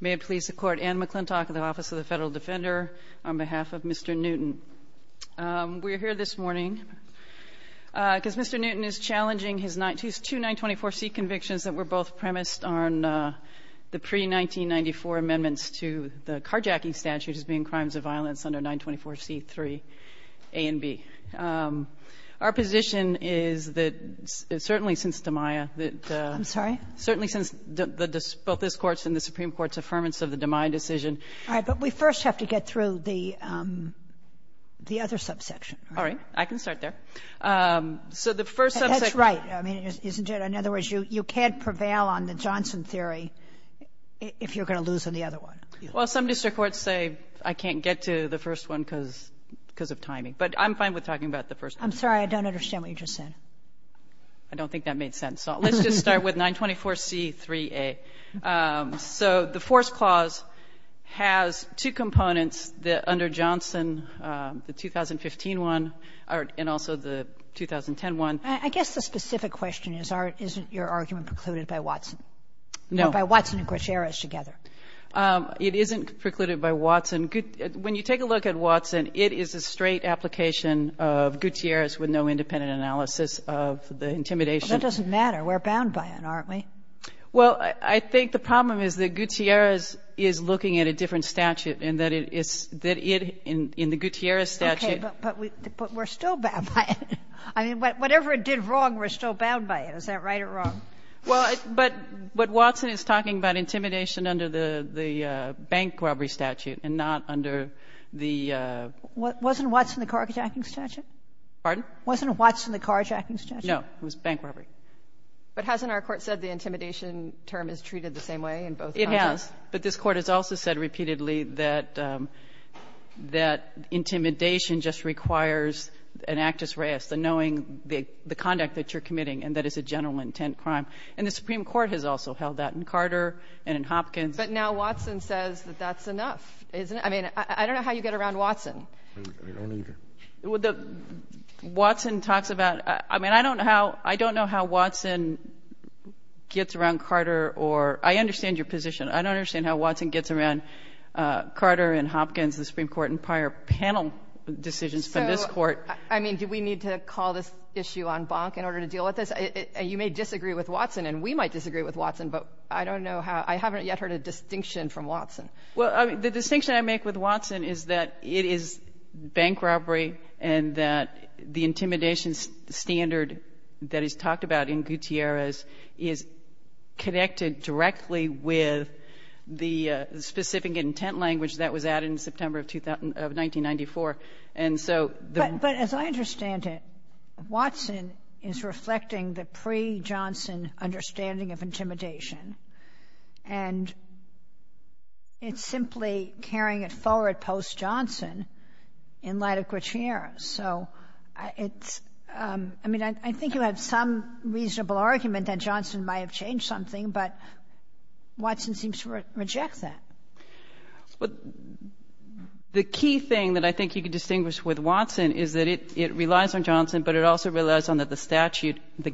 May it please the Court, Anne McClintock of the Office of the Federal Defender on behalf of Mr. Newton. We're here this morning because Mr. Newton is challenging his two 924C convictions that were both premised on the pre-1994 amendments to the carjacking statute, which is being crimes of violence under 924C-3 A and B. Our position is that certainly since DiMaia, that the — I'm sorry? Certainly since both this Court's and the Supreme Court's affirmance of the DiMaia decision — All right. But we first have to get through the other subsection, right? All right. I can start there. So the first subsection — That's right. I mean, isn't it? In other words, you can't prevail on the Johnson theory if you're going to lose on the other one. Well, some district courts say I can't get to the first one because of timing. But I'm fine with talking about the first one. I'm sorry. I don't understand what you just said. I don't think that made sense. So let's just start with 924C-3A. So the Fourth Clause has two components under Johnson, the 2015 one and also the 2010 one. I guess the specific question is, isn't your argument precluded by Watson? No. It's precluded by Watson and Gutierrez together. It isn't precluded by Watson. When you take a look at Watson, it is a straight application of Gutierrez with no independent analysis of the intimidation. Well, that doesn't matter. We're bound by it, aren't we? Well, I think the problem is that Gutierrez is looking at a different statute and that it is — that it in the Gutierrez statute — Okay. But we're still bound by it. I mean, whatever it did wrong, we're still bound by it. Is that right or wrong? Well, but Watson is talking about intimidation under the bank robbery statute and not under the — Wasn't Watson the car-attacking statute? Pardon? Wasn't Watson the car-attacking statute? No. It was bank robbery. But hasn't our Court said the intimidation term is treated the same way in both cases? It has. But this Court has also said repeatedly that intimidation just requires an actus reus, the knowing the conduct that you're committing and that it's a general intent crime. And the Supreme Court has also held that in Carter and in Hopkins. But now Watson says that that's enough, isn't it? I mean, I don't know how you get around Watson. I don't either. Well, the — Watson talks about — I mean, I don't know how — I don't know how Watson gets around Carter or — I understand your position. I don't understand how Watson gets around Carter and Hopkins, the Supreme Court, and prior panel decisions from this Court. I mean, do we need to call this issue en banc in order to deal with this? You may disagree with Watson, and we might disagree with Watson. But I don't know how — I haven't yet heard a distinction from Watson. Well, the distinction I make with Watson is that it is bank robbery and that the intimidation standard that is talked about in Gutierrez is connected directly with the specific intent language that was added in September of 1994. And so the — But as I understand it, Watson is reflecting the pre-Johnson understanding of intimidation. And it's simply carrying it forward post-Johnson in light of Gutierrez. So it's — I mean, I think you have some reasonable argument that Johnson might have changed something, but Watson seems to reject that. Well, the key thing that I think you can distinguish with Watson is that it relies on Johnson, but it also relies on that the statute, the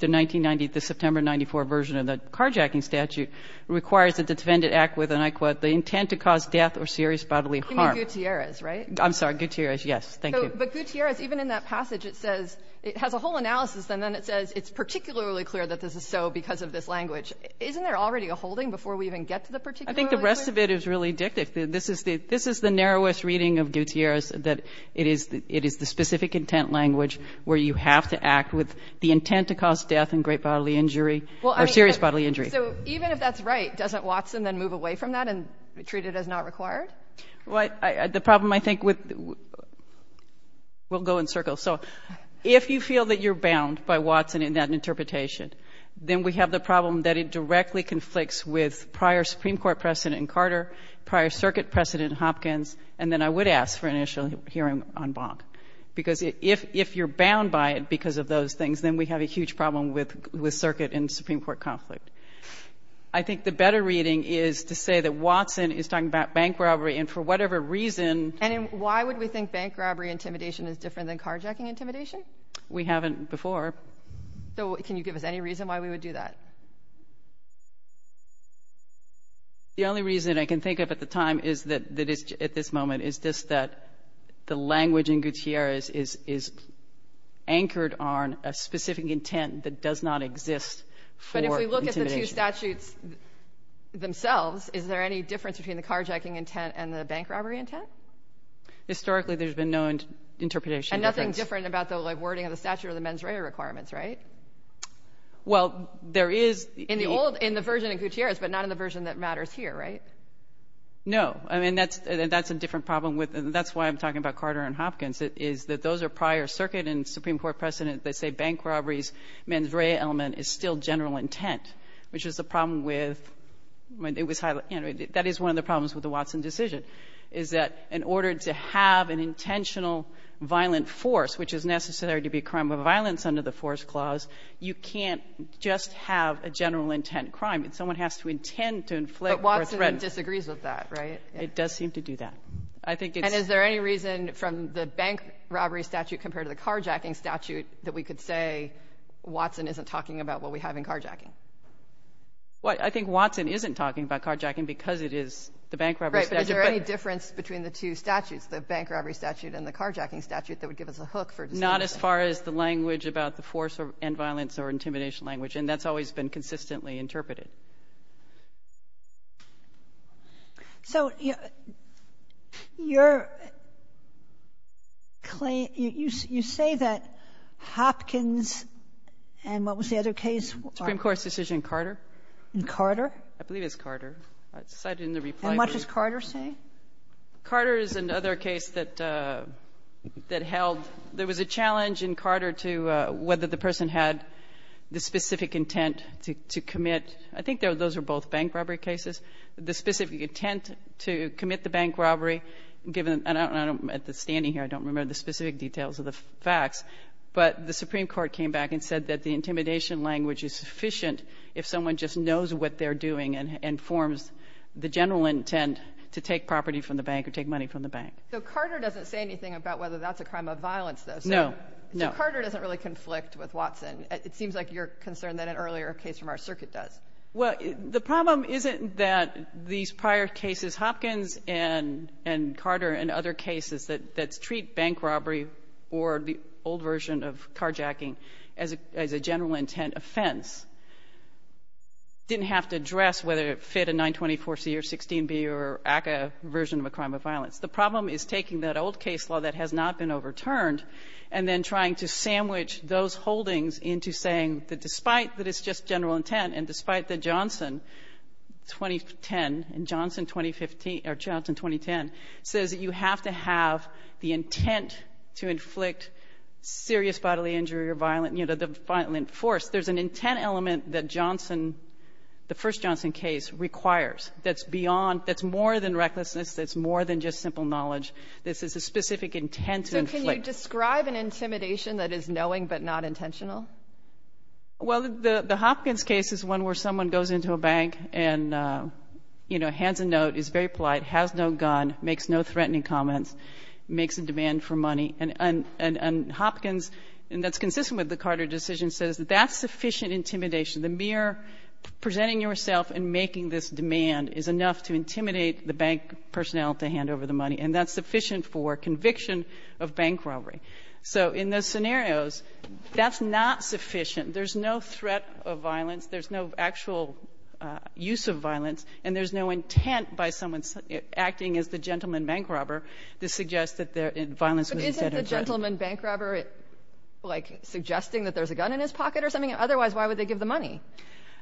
1990 — the September of 1994 version of the carjacking statute, requires that the defendant act with, and I quote, the intent to cause death or serious bodily harm. You mean Gutierrez, right? I'm sorry. Gutierrez, yes. Thank you. But Gutierrez, even in that passage, it says — it has a whole analysis, and then it says it's particularly clear that this is so because of this language. Isn't there already a holding before we even get to the particular language? I think the rest of it is really dictative. This is the narrowest reading of Gutierrez, that it is the specific intent language where you have to act with the intent to cause death and great bodily injury or serious bodily injury. So even if that's right, doesn't Watson then move away from that and treat it as not required? The problem, I think, with — we'll go in circles. So if you feel that you're bound by Watson in that interpretation, then we have the problem that it directly conflicts with prior Supreme Court precedent in Carter, prior circuit precedent in Hopkins, and then I would ask for initial hearing on Bonk. Because if you're bound by it because of those things, then we have a huge problem with circuit in Supreme Court conflict. I think the better reading is to say that Watson is talking about bank robbery, and for whatever reason — And why would we think bank robbery intimidation is different than carjacking intimidation? We haven't before. Can you give us any reason why we would do that? The only reason I can think of at the time is that at this moment is just that the language in Gutierrez is anchored on a specific intent that does not exist for intimidation. But if we look at the two statutes themselves, is there any difference between the carjacking intent and the bank robbery intent? Historically, there's been no interpretation. And nothing different about the wording of the statute or the mens rea requirements, right? Well, there is — In the old — in the version in Gutierrez, but not in the version that matters here, right? No. I mean, that's a different problem. That's why I'm talking about Carter and Hopkins, is that those are prior circuit and Supreme Court precedent. They say bank robberies, mens rea element is still general intent, which is the problem with — that is one of the problems with the Watson decision, is that in order to have an intentional violent force, which is necessary to be a crime of violence under the force clause, you can't just have a general intent crime. Someone has to intend to inflict — But Watson disagrees with that, right? It does seem to do that. I think it's — And is there any reason from the bank robbery statute compared to the carjacking statute that we could say Watson isn't talking about what we have in carjacking? Well, I think Watson isn't talking about carjacking because it is the bank robbery statute. Right, but is there any difference between the two statutes, the bank robbery statute and the carjacking statute, that would give us a hook for — Not as far as the language about the force and violence or intimidation language, and that's always been consistently interpreted. So you're — you say that Hopkins and what was the other case? Supreme Court's decision in Carter. In Carter? I believe it's Carter. I cited in the reply — As much as Carter, say? Carter is another case that held — there was a challenge in Carter to whether the person had the specific intent to commit — I think those were both bank robbery cases. The specific intent to commit the bank robbery, given — and I don't — standing here, I don't remember the specific details of the facts, but the Supreme Court came back and said that the intimidation language is sufficient if someone just knows what they're doing and forms the general intent to take property from the bank or take money from the bank. So Carter doesn't say anything about whether that's a crime of violence, though? No, no. So Carter doesn't really conflict with Watson. It seems like you're concerned that an earlier case from our circuit does. Well, the problem isn't that these prior cases, Hopkins and Carter and other cases, that treat bank robbery or the old version of carjacking as a general intent offense, didn't have to address whether it fit a 924C or 16B or ACCA version of a crime of violence. The problem is taking that old case law that has not been overturned and then trying to sandwich those holdings into saying that despite that it's just general intent and despite that Johnson 2010, Johnson 2015, or Johnson 2010, says that you have to have the intent to inflict serious bodily injury or violent force. There's an intent element that Johnson, the first Johnson case, requires that's beyond — that's more than recklessness, that's more than just simple knowledge. This is a specific intent to inflict. So can you describe an intimidation that is knowing but not intentional? Well, the Hopkins case is one where someone goes into a bank and, you know, hands a note, is very polite, has no gun, makes no threatening comments, makes a demand for money. And Hopkins, and that's consistent with the Carter decision, says that that's sufficient intimidation. The mere presenting yourself and making this demand is enough to intimidate the bank personnel to hand over the money, and that's sufficient for conviction of bank robbery. So in those scenarios, that's not sufficient. There's no threat of violence, there's no actual use of violence, and there's no intent by someone acting as the gentleman bank robber to suggest that violence was instead a threat. But isn't the gentleman bank robber, like, suggesting that there's a gun in his pocket or something? Otherwise, why would they give the money?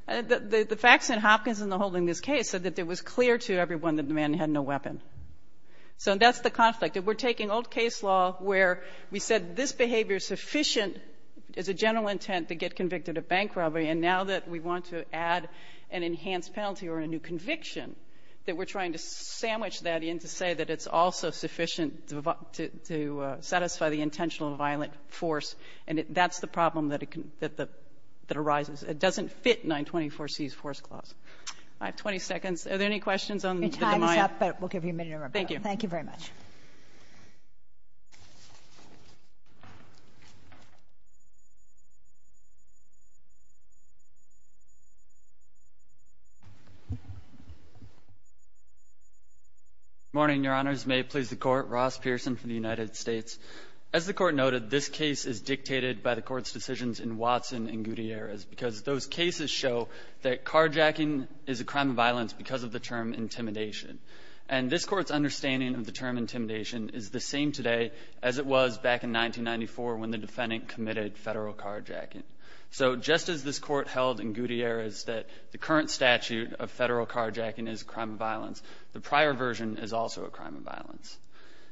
The facts in Hopkins and the holding of this case said that it was clear to everyone that the man had no weapon. So that's the conflict. We're taking old case law where we said this behavior is sufficient as a general intent to get convicted of bank robbery, and now that we want to add an enhanced penalty or a new conviction, that we're trying to sandwich that in to say that it's also sufficient to satisfy the intentional violent force. And that's the problem that arises. It doesn't fit 924C's force clause. I have 20 seconds. Are there any questions on the demya? Thank you. Thank you very much. Morning, Your Honors. May it please the Court. Ross Pearson from the United States. As the Court noted, this case is dictated by the Court's decisions in Watson and Gutierrez because those cases show that carjacking is a crime of violence because of the term intimidation. And this Court's understanding of the term intimidation is the same today as it was back in 1994 when the defendant committed federal carjacking. So just as this Court held in Gutierrez that the current statute of federal carjacking is a crime of violence, the prior version is also a crime of violence.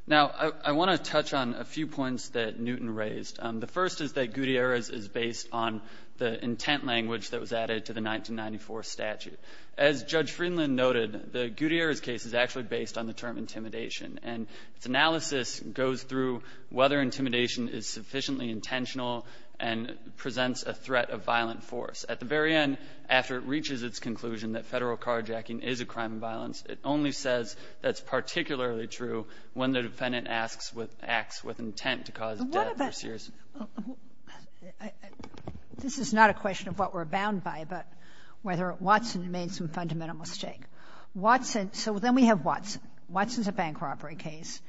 Now, I want to touch on a few points that Newton raised. The first is that Gutierrez is based on the intent language that was added to the 1994 statute. As Judge Friedland noted, the Gutierrez case is actually based on the term intimidation. And its analysis goes through whether intimidation is sufficiently intentional and presents a threat of violent force. At the very end, after it reaches its conclusion that federal carjacking is a crime of violence, it only says that's particularly true when the defendant asks with acts with intent to cause death or serious... This is not a question of what we're bound by, but whether Watson made some fundamental mistake. Watson, so then we have Watson. Watson's a bank robbery case,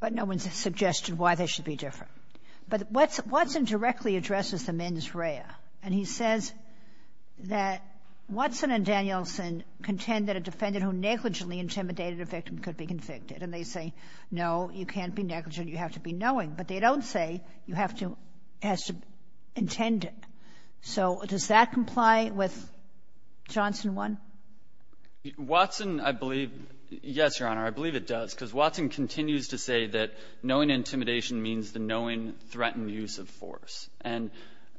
but no one's suggested why they should be different. But Watson directly addresses the mens rea, and he says that Watson and Danielson contend that a defendant who negligently intimidated a victim could be convicted. And they say, no, you can't be negligent. You have to be knowing. But they don't say you have to have to intend it. So does that comply with Johnson 1? Watson, I believe, yes, Your Honor, I believe it does, because Watson continues to say that knowing intimidation means the knowing threatened use of force. And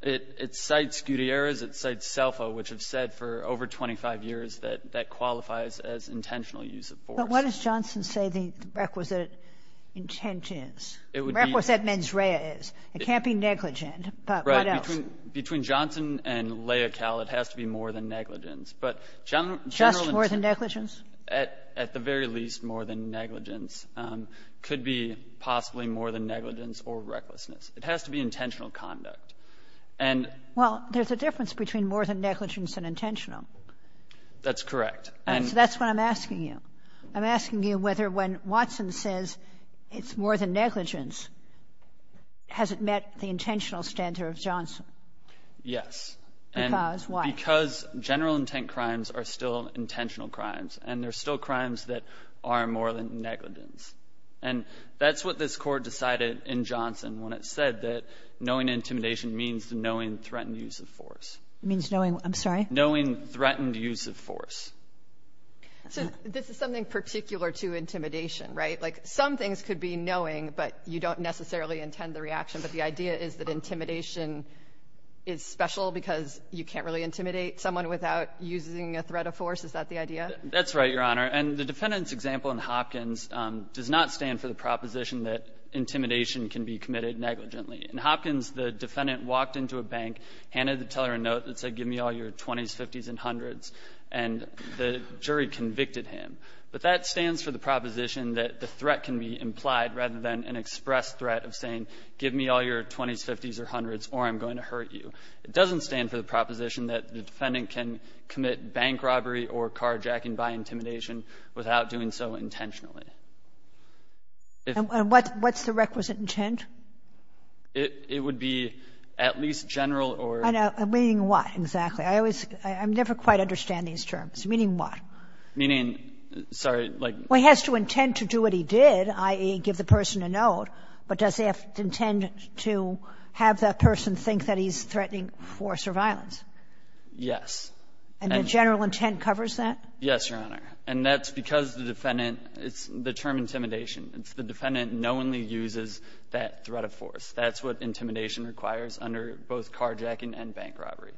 it cites Gutierrez. It cites Selfa, which have said for over 25 years that that qualifies as intentional use of force. But what does Johnson say the requisite intent is, requisite mens rea is? It can't be negligent, but what else? Right. Between Johnson and Leocal, it has to be more than negligence. But general... Just more than negligence? At the very least, more than negligence. Could be possibly more than negligence or recklessness. It has to be intentional conduct. And... Well, there's a difference between more than negligence and intentional. That's correct. So that's what I'm asking you. I'm asking you whether when Watson says it's more than negligence, has it met the intentional standard of Johnson? Yes. Because why? Because general intent crimes are still intentional crimes, and they're still crimes that are more than negligence. And that's what this Court decided in Johnson when it said that knowing It means knowing, I'm sorry? Knowing threatened use of force. So this is something particular to intimidation, right? Like some things could be knowing, but you don't necessarily intend the reaction. But the idea is that intimidation is special because you can't really intimidate someone without using a threat of force. Is that the idea? That's right, Your Honor. And the defendant's example in Hopkins does not stand for the proposition that intimidation can be committed negligently. In Hopkins, the defendant walked into a bank, handed the teller a note that said, Give me all your 20s, 50s, and 100s. And the jury convicted him. But that stands for the proposition that the threat can be implied rather than an express threat of saying, Give me all your 20s, 50s, or 100s, or I'm going to hurt you. It doesn't stand for the proposition that the defendant can commit bank robbery or carjacking by intimidation without doing so intentionally. And what's the requisite intent? It would be at least general or not. Meaning what exactly? I always — I never quite understand these terms. Meaning what? Meaning, sorry, like — Well, he has to intend to do what he did, i.e., give the person a note. But does he have to intend to have that person think that he's threatening force or violence? Yes. And the general intent covers that? Yes, Your Honor. And that's because the defendant — it's the term intimidation. It's the defendant knowingly uses that threat of force. That's what intimidation requires under both carjacking and bank robbery.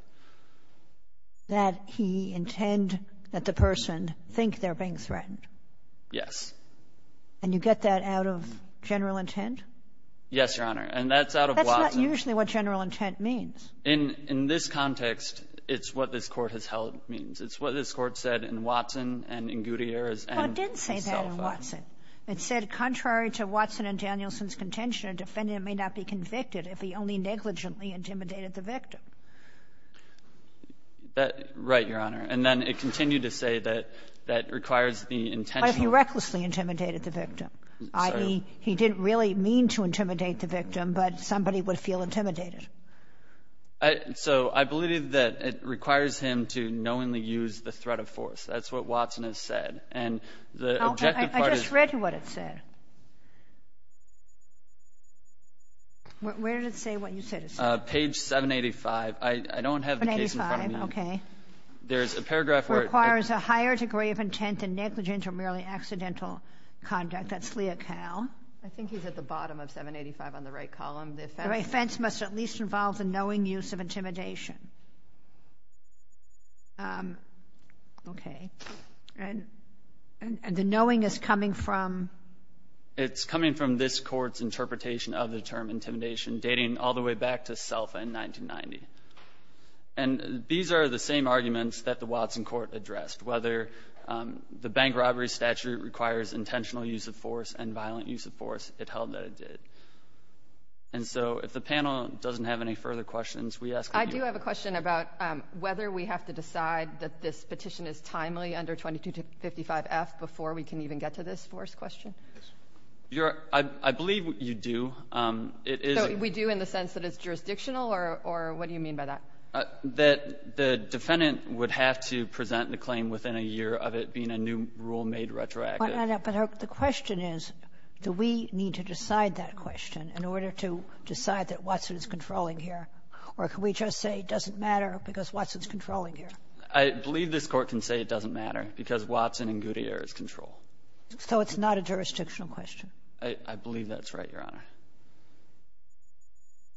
That he intend that the person think they're being threatened? Yes. And you get that out of general intent? Yes, Your Honor. And that's out of Watson. That's not usually what general intent means. In this context, it's what this Court has held means. It's what this Court said in Watson and in Gutierrez and itself. Well, it didn't say that in Watson. It said contrary to Watson and Danielson's contention, a defendant may not be convicted if he only negligently intimidated the victim. Right, Your Honor. And then it continued to say that that requires the intentional — But he recklessly intimidated the victim. I mean, he didn't really mean to intimidate the victim, but somebody would feel intimidated. So I believe that it requires him to knowingly use the threat of force. That's what Watson has said. I just read what it said. Where did it say what you said it said? Page 785. I don't have the case in front of me. 785, okay. There's a paragraph where it — Requires a higher degree of intent than negligence or merely accidental conduct. That's Leocal. I think he's at the bottom of 785 on the right column. The offense must at least involve the knowing use of intimidation. Okay. And the knowing is coming from? It's coming from this court's interpretation of the term intimidation, dating all the way back to SELFA in 1990. And these are the same arguments that the Watson court addressed. Whether the bank robbery statute requires intentional use of force and violent use of force, it held that it did. And so if the panel doesn't have any further questions, we ask — I do have a question about whether we have to decide that this petition is timely under 2255F before we can even get to this force question. Yes. I believe you do. It is — So we do in the sense that it's jurisdictional, or what do you mean by that? That the defendant would have to present the claim within a year of it being a new rule made retroactive. But the question is, do we need to decide that question in order to decide that Watson is controlling here? Or can we just say it doesn't matter because Watson is controlling here? I believe this court can say it doesn't matter because Watson and Goodyear is control. So it's not a jurisdictional question? I believe that's right, Your Honor.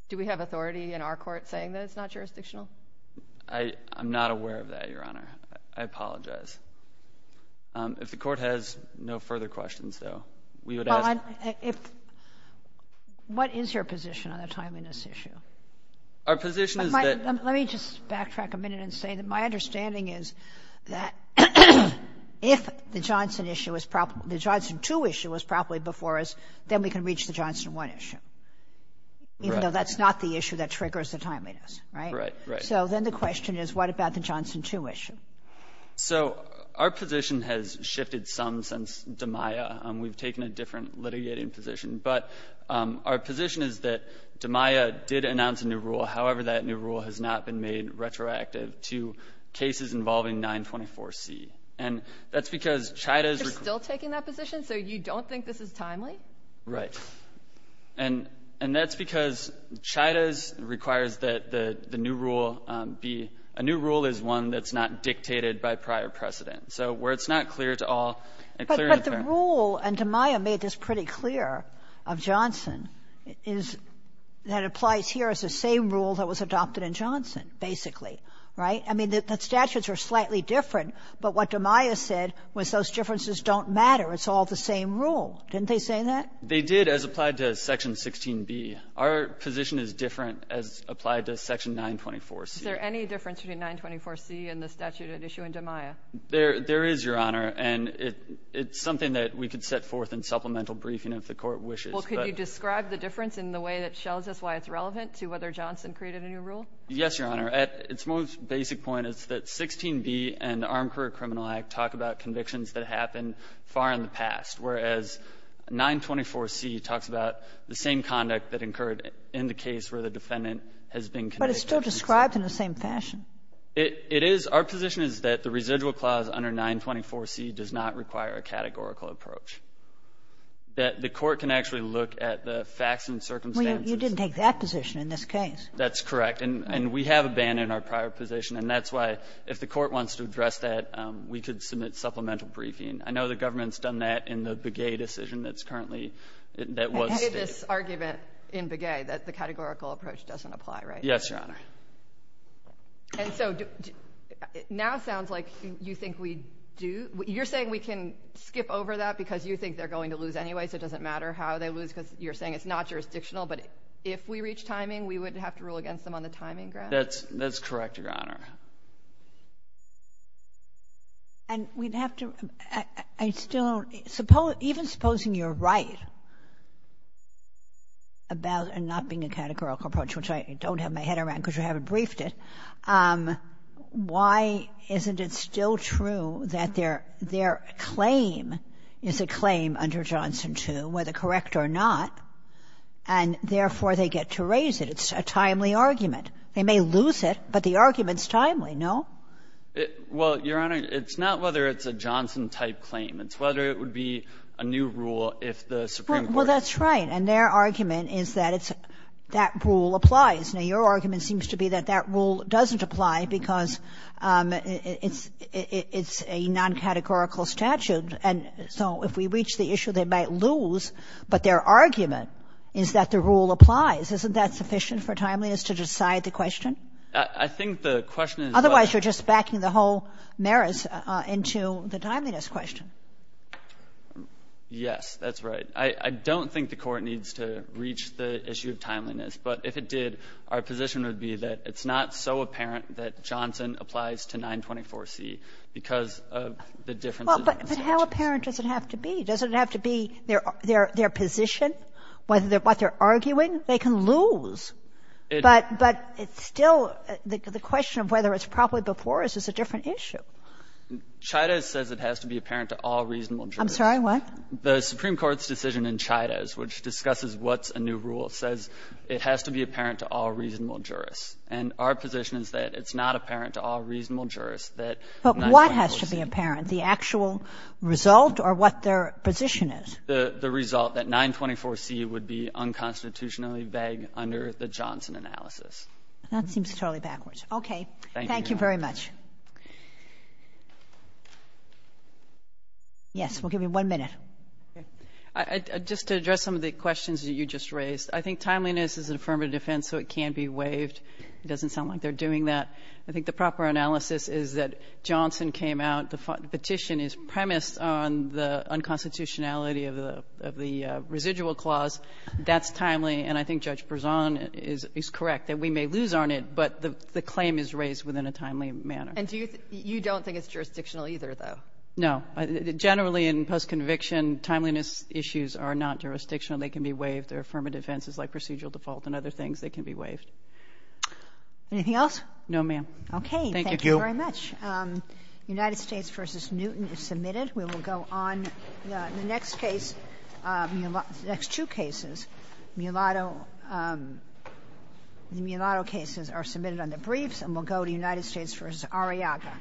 Do we have authority in our court saying that it's not jurisdictional? I'm not aware of that, Your Honor. I apologize. If the court has no further questions, though, we would ask — Our position is that — Let me just backtrack a minute and say that my understanding is that if the Johnson issue was — the Johnson 2 issue was properly before us, then we can reach the Johnson 1 issue. Right. Even though that's not the issue that triggers the timeliness, right? Right, right. So then the question is, what about the Johnson 2 issue? So our position has shifted some since DiMaia. We've taken a different litigating position. But our position is that DiMaia did announce a new rule. However, that new rule has not been made retroactive to cases involving 924C. And that's because Chida's — You're still taking that position? So you don't think this is timely? Right. And that's because Chida's requires that the new rule be — a new rule is one that's not dictated by prior precedent. So where it's not clear to all — But the rule — and DiMaia made this pretty clear — of Johnson is that it applies here as the same rule that was adopted in Johnson, basically. Right? I mean, the statutes are slightly different. But what DiMaia said was those differences don't matter. It's all the same rule. Didn't they say that? They did, as applied to Section 16B. Our position is different as applied to Section 924C. Is there any difference between 924C and the statute at issue in DiMaia? There is, Your Honor. And it's something that we could set forth in supplemental briefing if the Court wishes, but — Well, can you describe the difference in the way that shows us why it's relevant to whether Johnson created a new rule? Yes, Your Honor. At its most basic point, it's that 16B and the Armed Career Criminal Act talk about convictions that happened far in the past, whereas 924C talks about the same conduct that occurred in the case where the defendant has been convicted. But it's still described in the same fashion. It is. Our position is that the residual clause under 924C does not require a categorical approach, that the Court can actually look at the facts and circumstances. Well, you didn't take that position in this case. That's correct. And we have abandoned our prior position. And that's why, if the Court wants to address that, we could submit supplemental briefing. I know the government's done that in the Begay decision that's currently — that was stated. I have this argument in Begay that the categorical approach doesn't apply, right? Yes, Your Honor. And so, now it sounds like you think we do — you're saying we can skip over that because you think they're going to lose anyway, so it doesn't matter how they lose because you're saying it's not jurisdictional. But if we reach timing, we would have to rule against them on the timing grounds? That's correct, Your Honor. And we'd have to — I still don't — even supposing you're right about it not being a categorical approach, which I don't have my head around because you haven't briefed it, why isn't it still true that their claim is a claim under Johnson II, whether correct or not, and therefore they get to raise it? It's a timely argument. They may lose it, but the argument's timely, no? Well, Your Honor, it's not whether it's a Johnson-type claim. It's whether it would be a new rule if the Supreme Court — Well, that's right. And their argument is that it's — that rule applies. Now, your argument seems to be that that rule doesn't apply because it's a non-categorical statute. And so if we reach the issue, they might lose, but their argument is that the rule applies. Isn't that sufficient for timeliness to decide the question? I think the question is whether — Otherwise, you're just backing the whole merits into the timeliness question. Yes, that's right. I don't think the Court needs to reach the issue of timeliness. But if it did, our position would be that it's not so apparent that Johnson applies to 924C because of the differences in the statutes. But how apparent does it have to be? Does it have to be their position, what they're arguing? They can lose. But it's still — the question of whether it's probably before us is a different issue. Chidas says it has to be apparent to all reasonable jurors. I'm sorry, what? The Supreme Court's decision in Chidas, which discusses what's a new rule, says it has to be apparent to all reasonable jurors. And our position is that it's not apparent to all reasonable jurors that 924C — But what has to be apparent, the actual result or what their position is? The result that 924C would be unconstitutionally vague under the Johnson analysis. That seems totally backwards. Okay. Thank you very much. Yes, we'll give you one minute. Just to address some of the questions that you just raised, I think timeliness is an affirmative defense, so it can be waived. It doesn't sound like they're doing that. I think the proper analysis is that Johnson came out. The petition is premised on the unconstitutionality of the residual clause. That's timely. And I think Judge Berzon is correct that we may lose on it, but the claim is raised within a timely manner. And you don't think it's jurisdictional either, though? No. Generally, in postconviction, timeliness issues are not jurisdictional. They can be waived. They're affirmative defenses like procedural default and other things. They can be waived. Anything else? No, ma'am. Okay. Thank you. Thank you very much. United States v. Newton is submitted. We will go on. The next case, the next two cases, mulatto — the mulatto cases are submitted on the briefs, and we'll go to United States v. Arriaga.